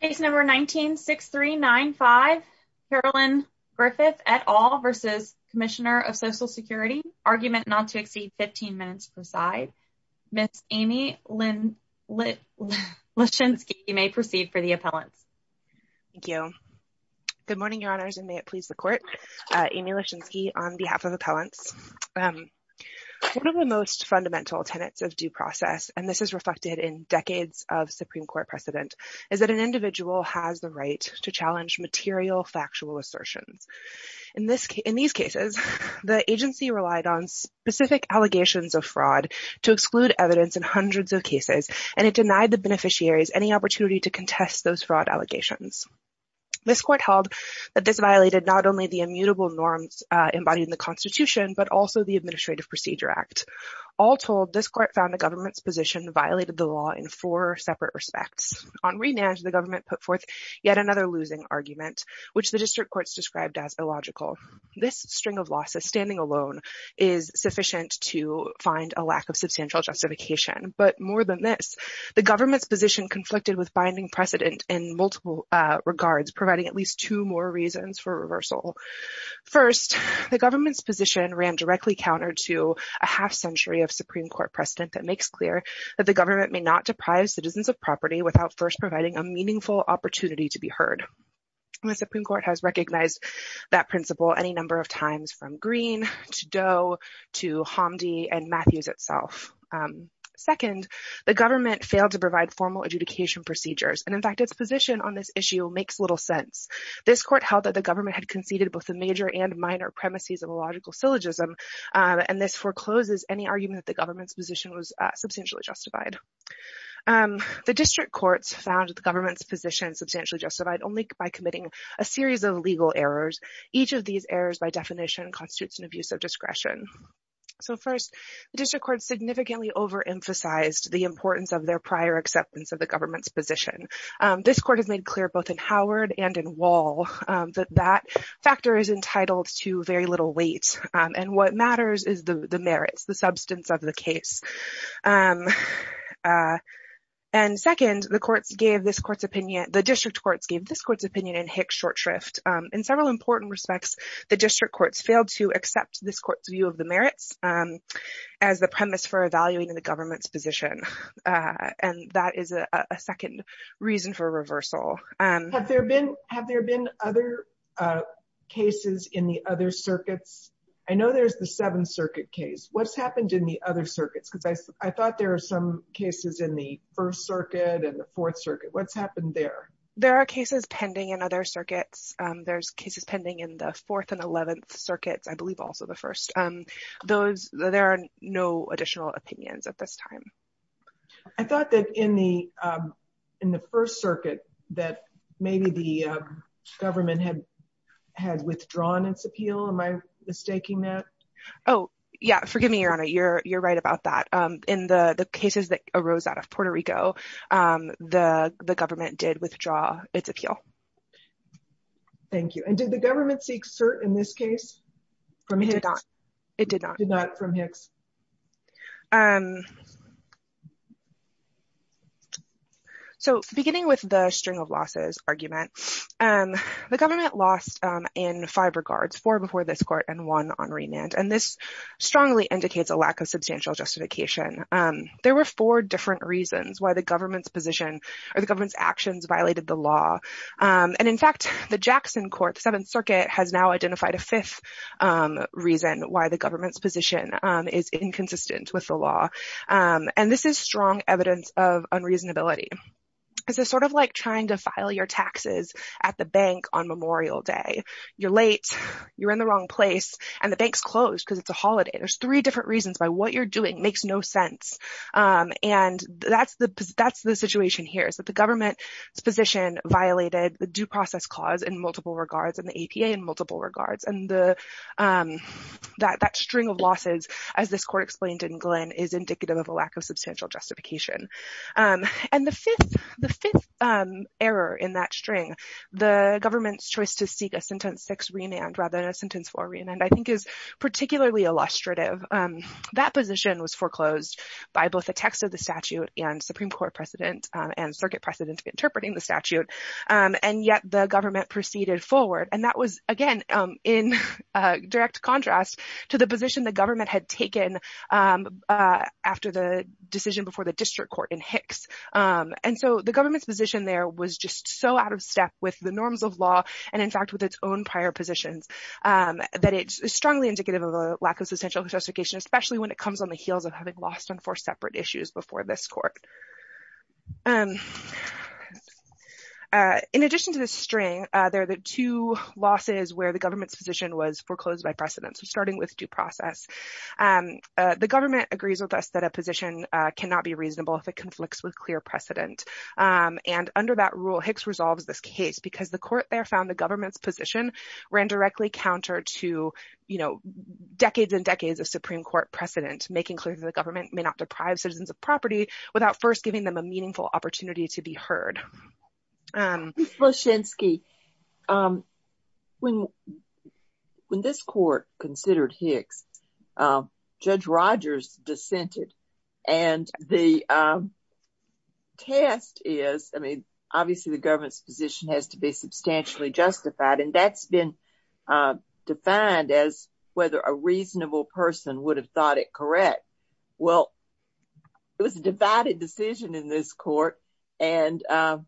Case number 19-6395. Carolyn Griffith et al. v. Comm of Social Security. Argument not to exceed 15 minutes per side. Ms. Amy Lischinsky may proceed for the appellants. Thank you. Good morning, Your Honors, and may it please the Court. Amy Lischinsky on behalf of appellants. One of the most fundamental tenets of due process, and this is reflected in decades of Supreme Court precedent, is that an individual has the right to challenge material factual assertions. In this case, in these cases, the agency relied on specific allegations of fraud to exclude evidence in hundreds of cases, and it denied the beneficiaries any opportunity to contest those fraud allegations. This Court held that this violated not only the immutable norms embodied in the Constitution, but also the Administrative Procedure Act. All told, this Court found the government's position violated the law in four separate respects. On re-manage, the government put forth yet another losing argument, which the district courts described as illogical. This string of losses, standing alone, is sufficient to find a lack of substantial justification. But more than this, the government's position conflicted with binding precedent in multiple regards, providing at least two more reasons for reversal. First, the government's position ran directly counter to a half-century of Supreme Court precedent that makes clear that the government may not deprive citizens of property without first providing a meaningful opportunity to be heard. The Supreme Court has recognized that principle any number of times, from Greene to Doe to Hamdi and Matthews itself. Second, the government failed to provide formal adjudication procedures, and in fact, its position on this issue makes little sense. This Court held that the government had conceded both the major and minor premises of illogical syllogism, and this forecloses any argument that the government's position was substantially justified. The district courts found the government's position substantially justified only by committing a series of legal errors. Each of these errors, by definition, constitutes an abuse of discretion. So first, the district courts significantly overemphasized the importance of their prior acceptance of the government's position. This Court has made clear both in Howard and in Wall that that factor is entitled to very little weight, and what matters is the merits, the substance of the case. And second, the courts gave this court's opinion, the district courts gave this court's opinion in Hick's short shrift. In several important respects, the district courts failed to accept this court's view of the merits as the premise for evaluating the government's and that is a second reason for reversal. Have there been other cases in the other circuits? I know there's the 7th Circuit case. What's happened in the other circuits? Because I thought there were some cases in the 1st Circuit and the 4th Circuit. What's happened there? There are cases pending in other circuits. There's cases pending in the 4th and 11th Circuits, I believe also the 1st. There are no additional opinions at this time. I thought that in the 1st Circuit that maybe the government had withdrawn its appeal. Am I mistaking that? Oh, yeah. Forgive me, Your Honor. You're right about that. In the cases that arose out of Puerto Rico, the government did withdraw its appeal. Thank you. And did the government seek cert in this case from Hick's? It did not. It did not from Hick's. So beginning with the string of losses argument, the government lost in five regards, four before this court and one on remand. And this strongly indicates a lack of substantial justification. There were four different reasons why the government's position or the government's actions violated the law. And in fact, the Jackson Court, the 7th Circuit has now identified a fifth reason why the government's position is inconsistent with the law. And this is strong evidence of unreasonability. It's sort of like trying to file your taxes at the bank on Memorial Day. You're late. You're in the wrong place. And the bank's closed because it's a holiday. There's three different reasons why what you're doing makes no sense. And that's the situation here is that the government's position violated the APA in multiple regards. And that string of losses, as this court explained in Glenn, is indicative of a lack of substantial justification. And the fifth error in that string, the government's choice to seek a sentence six remand rather than a sentence four remand, I think is particularly illustrative. That position was foreclosed by both the text of the statute and Supreme Court precedent and circuit precedent interpreting the statute. And yet the government proceeded forward. And that was, again, in direct contrast to the position the government had taken after the decision before the district court in Hicks. And so the government's position there was just so out of step with the norms of law, and in fact, with its own prior positions, that it's strongly indicative of a lack of substantial justification, especially when it comes on the heels of having lost on four separate issues before this court. In addition to this string, there are the two losses where the government's position was foreclosed by precedent. So starting with due process, the government agrees with us that a position cannot be reasonable if it conflicts with clear precedent. And under that rule, Hicks resolves this case because the court there found the government's position ran directly counter to, you know, decades and decades of Supreme Court precedent, making clear that the government may not deprive citizens of property without first giving them a meaningful opportunity to be heard. Ms. Bloshensky, when this court considered Hicks, Judge Rogers dissented. And the test is, I mean, obviously, the government's position has to be substantially justified, and that's been defined as whether a reasonable person would have thought it correct. Well, it was a divided decision in this court, and I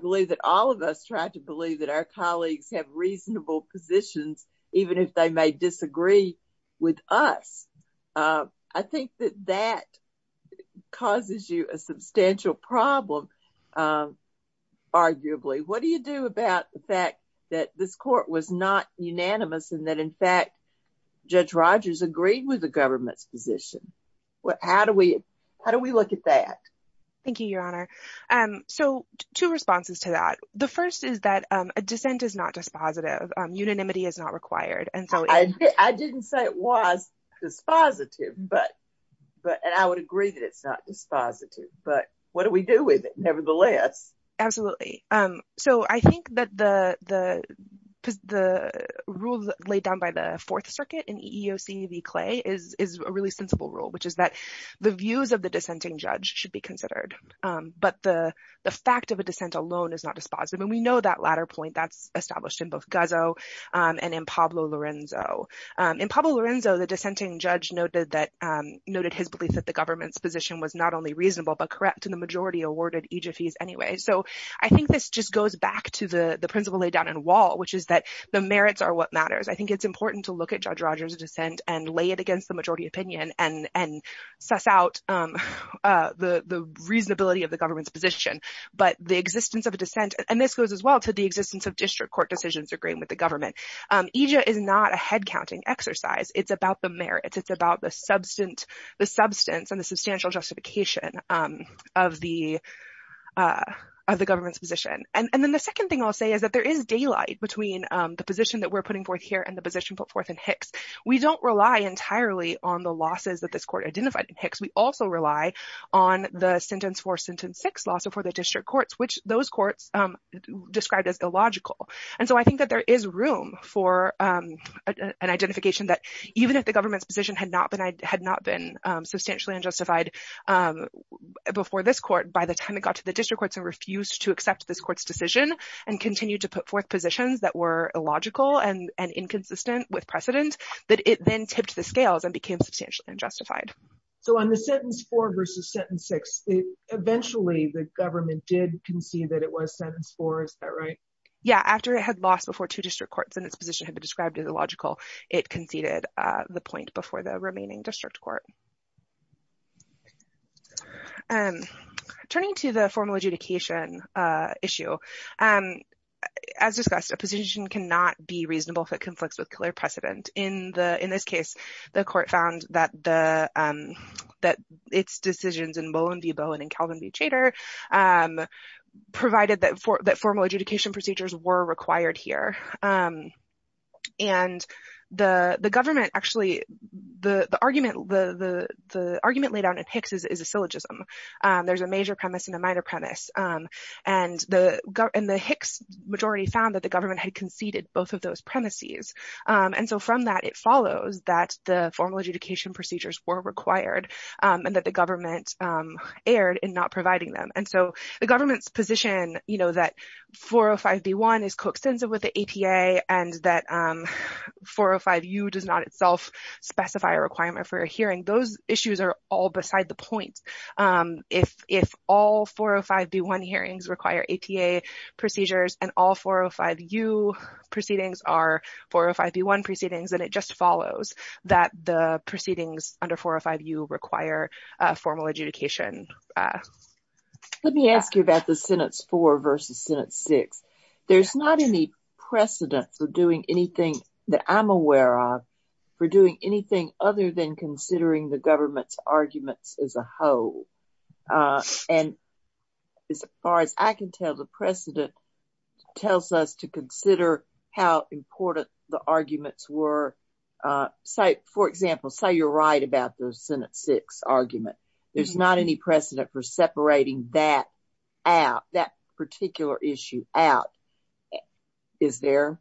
believe that all of us try to believe that our colleagues have reasonable positions, even if they may disagree with us. I think that that causes you a substantial problem, arguably. What do you do about the fact that this court was not in the government's position? How do we look at that? Thank you, Your Honor. So two responses to that. The first is that a dissent is not dispositive. Unanimity is not required. I didn't say it was dispositive, and I would agree that it's not dispositive, but what do we do with it, nevertheless? Absolutely. So I think that the rule laid down by the Fourth Circuit in EEOC v. Clay is a really sensible rule, which is that the views of the dissenting judge should be considered, but the fact of a dissent alone is not dispositive. And we know that latter point, that's established in both Guzzo and in Pablo Lorenzo. In Pablo Lorenzo, the dissenting judge noted his belief that the government's position was not only reasonable but correct, and the majority awarded each of these anyway. So I think this just goes back to the principle laid down in Wall, which is that the merits are what matters. I think it's important to look at the majority opinion and suss out the reasonability of the government's position, but the existence of a dissent, and this goes as well to the existence of district court decisions agreeing with the government. EJIA is not a head-counting exercise. It's about the merits. It's about the substance and the substantial justification of the government's position. And then the second thing I'll say is that there is daylight between the position that we're putting forth here and the position put forth in Hicks. We don't rely entirely on the losses that this court identified in Hicks. We also rely on the sentence for sentence six lawsuit for the district courts, which those courts described as illogical. And so I think that there is room for an identification that even if the government's position had not been substantially unjustified before this court, by the time it got to the district courts and refused to accept this decision and continued to put forth positions that were illogical and inconsistent with precedent, that it then tipped the scales and became substantially unjustified. So on the sentence four versus sentence six, eventually the government did concede that it was sentence four. Is that right? Yeah, after it had lost before two district courts and its position had been described as illogical, it conceded the point before the remaining district court. Turning to the formal adjudication issue, as discussed, a position cannot be reasonable if it conflicts with clear precedent. In this case, the court found that its decisions in Mullen v. Bowen and Calvin v. Chater provided that formal adjudication procedures were required here. And the government actually, the argument laid out in Hicks is a syllogism. There's a major premise and a minor premise. And the Hicks majority found that the government had conceded both of those premises. And so from that, it follows that the formal adjudication procedures were required and that the government erred in not providing them. And so the government's position, you know, that 405B1 is coextensive with the APA and that 405U does not itself specify a requirement for a hearing. Those issues are all beside the point. If all 405B1 hearings require APA procedures and all 405U proceedings are 405B1 proceedings, then it just follows that the proceedings under 405U require formal adjudication. Let me ask you about the Senate's four versus Senate six. There's not any precedent for doing anything that I'm aware of for doing anything other than considering the government's arguments as a whole. And as far as I can tell, the precedent tells us to consider how important the arguments were. Say, for example, say you're right about the Senate six argument. There's not any precedent for separating that out, that particular issue out, is there?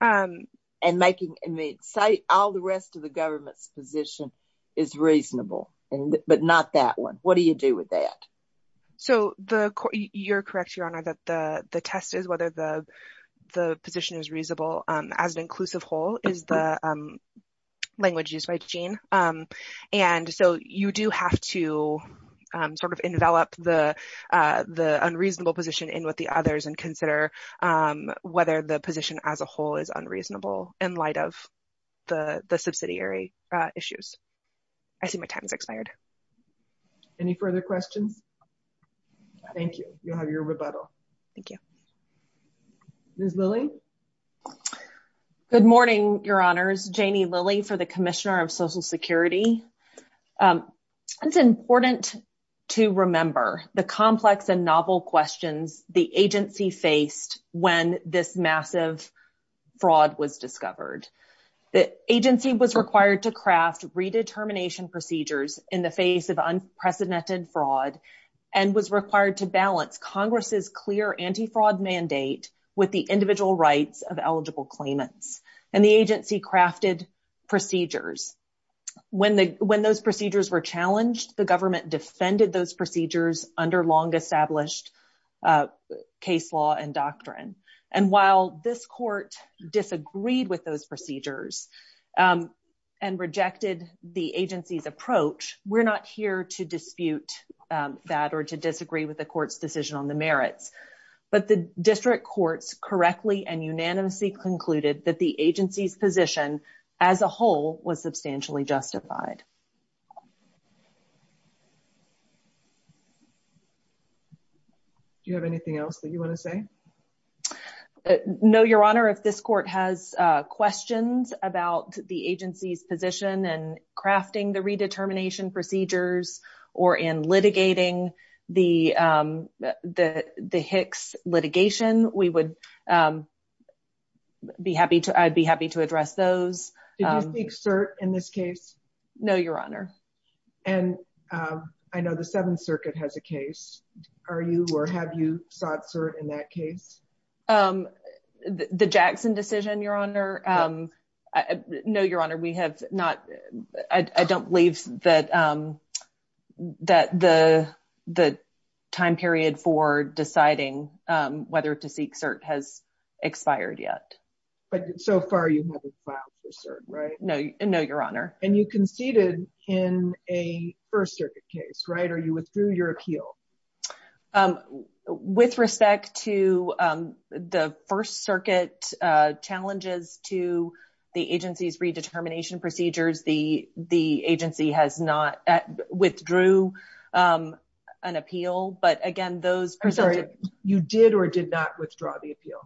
And making, I mean, say all the rest of the government's position is reasonable, but not that one. What do you do with that? So, you're correct, Your Honor, that the test is whether the position is reasonable as an to sort of envelop the unreasonable position in with the others and consider whether the position as a whole is unreasonable in light of the subsidiary issues. I see my time has expired. Any further questions? Thank you. You'll have your rebuttal. Thank you. Ms. Lilly? Good morning, Your Honors. Janie Lilly for the Commissioner of Social Security. It's important to remember the complex and novel questions the agency faced when this massive fraud was discovered. The agency was required to craft redetermination procedures in the face of unprecedented fraud and was required to balance Congress's clear anti-fraud mandate with the When those procedures were challenged, the government defended those procedures under long-established case law and doctrine. And while this court disagreed with those procedures and rejected the agency's approach, we're not here to dispute that or to disagree with the court's decision on the merits. But the district courts correctly and unanimously concluded that the agency's position as a whole was substantially justified. Do you have anything else that you want to say? No, Your Honor. If this court has questions about the agency's position and crafting the redetermination procedures, I'd be happy to address those. Did you seek cert in this case? No, Your Honor. And I know the Seventh Circuit has a case. Are you or have you sought cert in that case? The Jackson decision, Your Honor? No, Your Honor. I don't believe that the time period for deciding whether to seek cert has expired yet. But so far, you haven't filed for cert, right? No, Your Honor. And you conceded in a First Circuit case, right? Or you withdrew your appeal? With respect to the First Circuit challenges to the agency's redetermination procedures, the agency has not withdrew an appeal. But again, those... I'm sorry. You did or did not withdraw the appeal?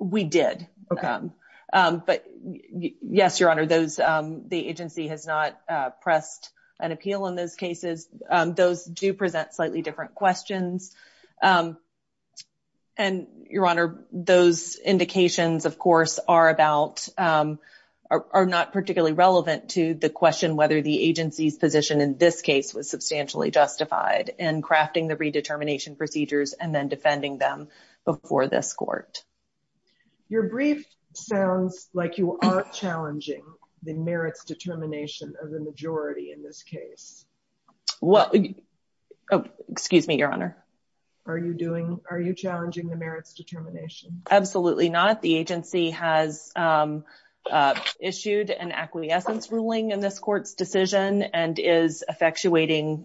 We did. But yes, Your Honor, the agency has not pressed an appeal in those cases. Those do present slightly different questions. And, Your Honor, those indications, of course, are about... are not particularly relevant to the question whether the agency's position in this case was substantially justified in crafting the redetermination procedures and then defending them before this court. Your brief sounds like you aren't challenging the merits determination of the majority in this case. Excuse me, Your Honor. Are you challenging the merits determination? Absolutely not. The agency has issued an acquiescence ruling in this court's decision and is effectuating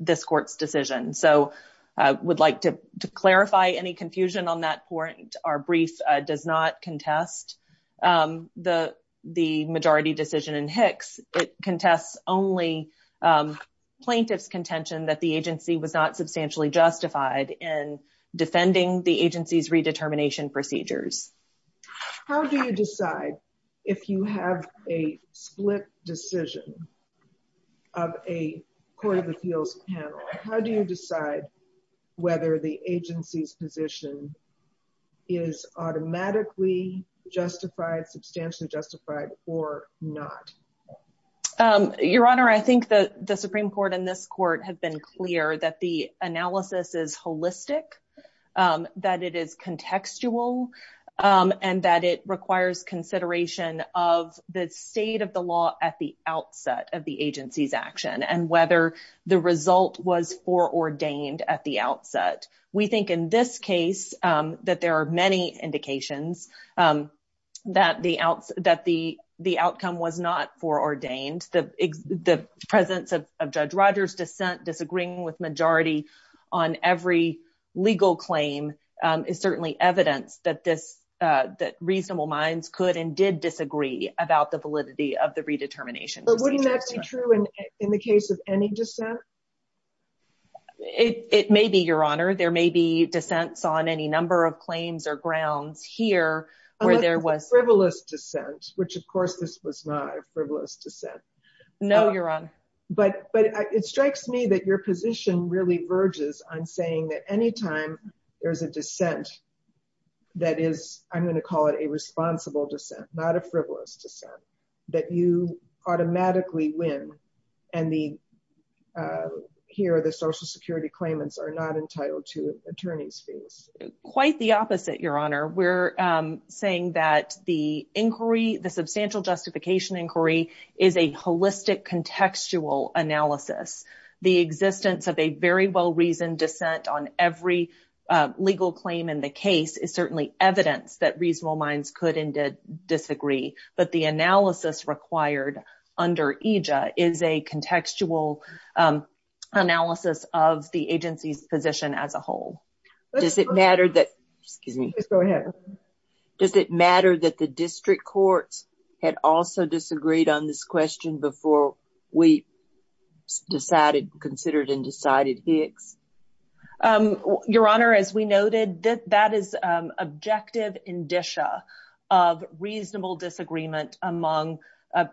this court's decision. So I would like to clarify any confusion on that point. Our brief does not contest the majority decision in Hicks. It contests only plaintiff's contention that the agency was not substantially justified in defending the agency's redetermination procedures. How do you decide if you have a split decision of a Court of Appeals panel? How do you decide whether the agency's position is automatically justified, substantially justified, or not? Your Honor, I think that the Supreme Court and this court have been clear that the analysis is holistic, that it is contextual, and that it requires consideration of the state of the law at the outset of the agency's action and whether the result was foreordained at the outset. We think in this case that there are many indications that the outcome was not foreordained. The presence of Judge Rogers' dissent, disagreeing with majority on every legal claim is certainly evidence that reasonable minds could and did disagree about the validity of the redetermination procedure. But wouldn't that be true in the case of any dissent? It may be, Your Honor. There may be dissents on any number of claims or grounds here where there was... A frivolous dissent, which of course this was not a frivolous dissent. No, Your Honor. But it strikes me that your position really verges on saying that any time there's a dissent that is, I'm going to call it a responsible dissent, not a frivolous dissent, that you automatically win and here the Social Security claimants are not entitled to attorney's fees. Quite the opposite, Your Honor. We're saying that the inquiry, the substantial justification inquiry, is a holistic contextual analysis. The existence of a very well-reasoned every legal claim in the case is certainly evidence that reasonable minds could and did disagree. But the analysis required under EJA is a contextual analysis of the agency's position as a whole. Does it matter that... Excuse me. Go ahead. Does it matter that the district courts had also disagreed on this question before we decided, considered, and decided Hicks? Your Honor, as we noted, that is objective indicia of reasonable disagreement among a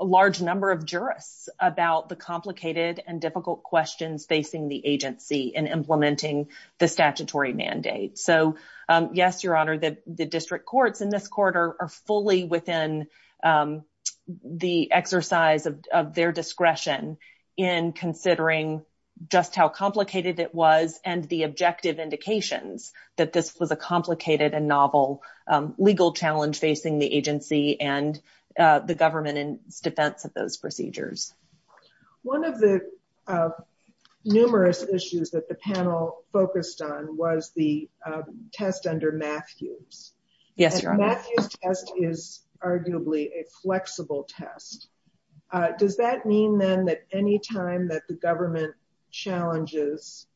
large number of jurists about the complicated and difficult questions facing the agency in implementing the statutory mandate. So yes, Your Honor, the district courts in this court are fully within the exercise of their discretion in considering just how complicated it was and the objective indications that this was a complicated and novel legal challenge facing the agency and the government in defense of those procedures. One of the numerous issues that the panel focused on was the test under Matthews. Yes, Your Honor. Matthews test is arguably a flexible test. Does that mean then that any time that the government challenges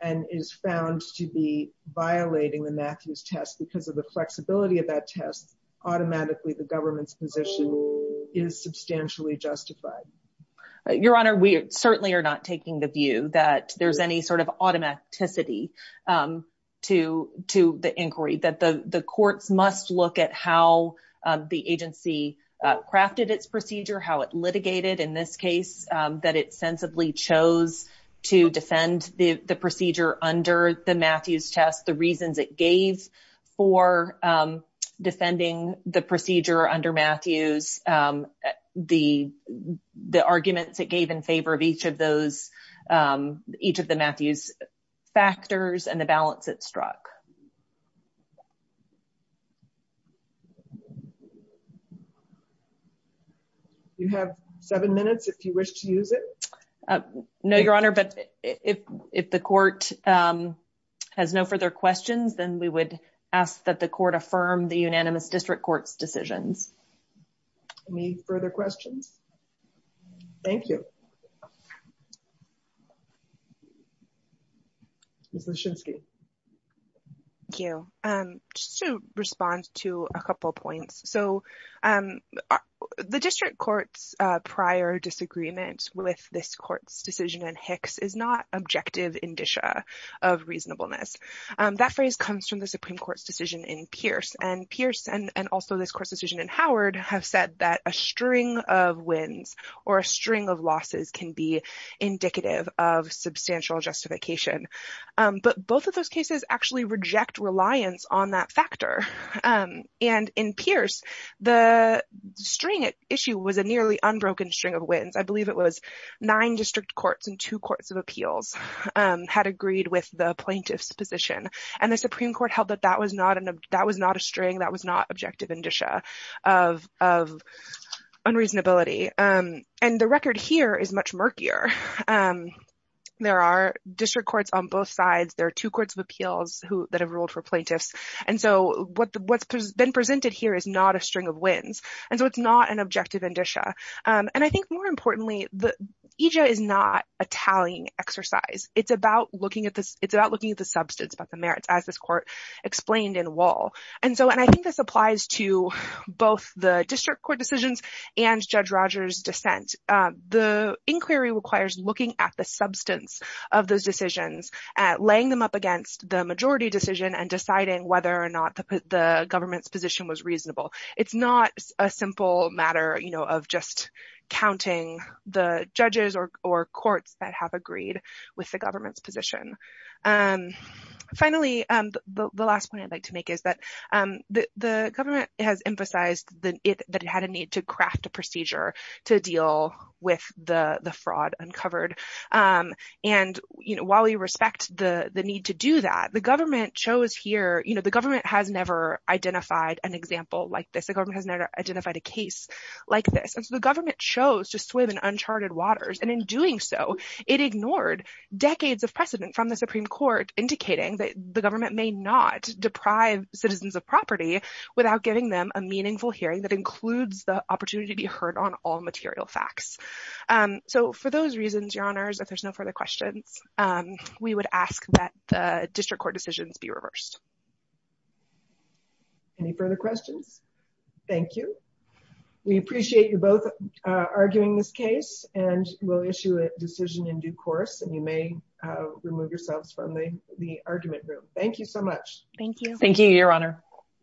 and is found to be violating the Matthews test because of the flexibility of that test, automatically the government's position is substantially justified? Your Honor, we certainly are not taking the view that there's any sort of automaticity to the inquiry, that the courts must look at how the agency crafted its procedure, how it litigated in this case, that it sensibly chose to defend the procedure under the Matthews test, the reasons it gave for defending the procedure under Matthews, the arguments it gave in favor of each of the Matthews factors and the balance it struck. You have seven minutes if you wish to use it. No, Your Honor, but if the court has no further questions, then we would ask that the court affirm the unanimous district court's decisions. Any further questions? Thank you. Thank you. Just to respond to a couple points. So the district court's prior disagreement with this court's decision in Hicks is not objective indicia of reasonableness. That phrase comes from the Supreme Court's decision in Pierce. And Pierce, and also this court's decision in Howard, have said that a string of wins or a string of losses can be indicative of substantial justification. But both of those cases actually reject reliance on that factor. And in Pierce, the string issue was a nearly unbroken string of wins. I believe it was nine district courts and two courts of appeals had agreed with the plaintiff's position. And the Supreme Court held that that was not a string, that was not objective indicia of unreasonability. And the record here is much murkier. There are district courts on both sides. There are two courts of appeals that have ruled for plaintiffs. And so what's been presented here is not a string of wins. And so it's not an objective indicia. And I think more importantly, the EJ is not a tallying exercise. It's about looking at the substance about the merits, as this court explained in Wall. And I think this applies to both the district court decisions and Judge Rogers' dissent. The inquiry requires looking at the substance of those decisions, laying them up against the majority decision, and deciding whether or not the government's position was reasonable. It's not a simple matter, you know, of just counting the judges or courts that have agreed with the government's position. And finally, the last point I'd like to make is that the government has emphasized that it had a need to craft a procedure to deal with the fraud uncovered. And, you know, while we respect the need to do that, the government chose here, the government has never identified an example like this. The government has never identified a case like this. And so the government chose to swim in uncharted waters. And in doing so, it ignored decades of precedent from the Supreme Court indicating that the government may not deprive citizens of property without giving them a meaningful hearing that includes the opportunity to be heard on all material facts. So for those reasons, Your Honors, if there's no further questions, we would ask that the district court decisions be reversed. Any further questions? Thank you. We appreciate you both arguing this case and will issue a decision in due course and you may remove yourselves from the argument room. Thank you so much. Thank you. Thank you, Your Honor.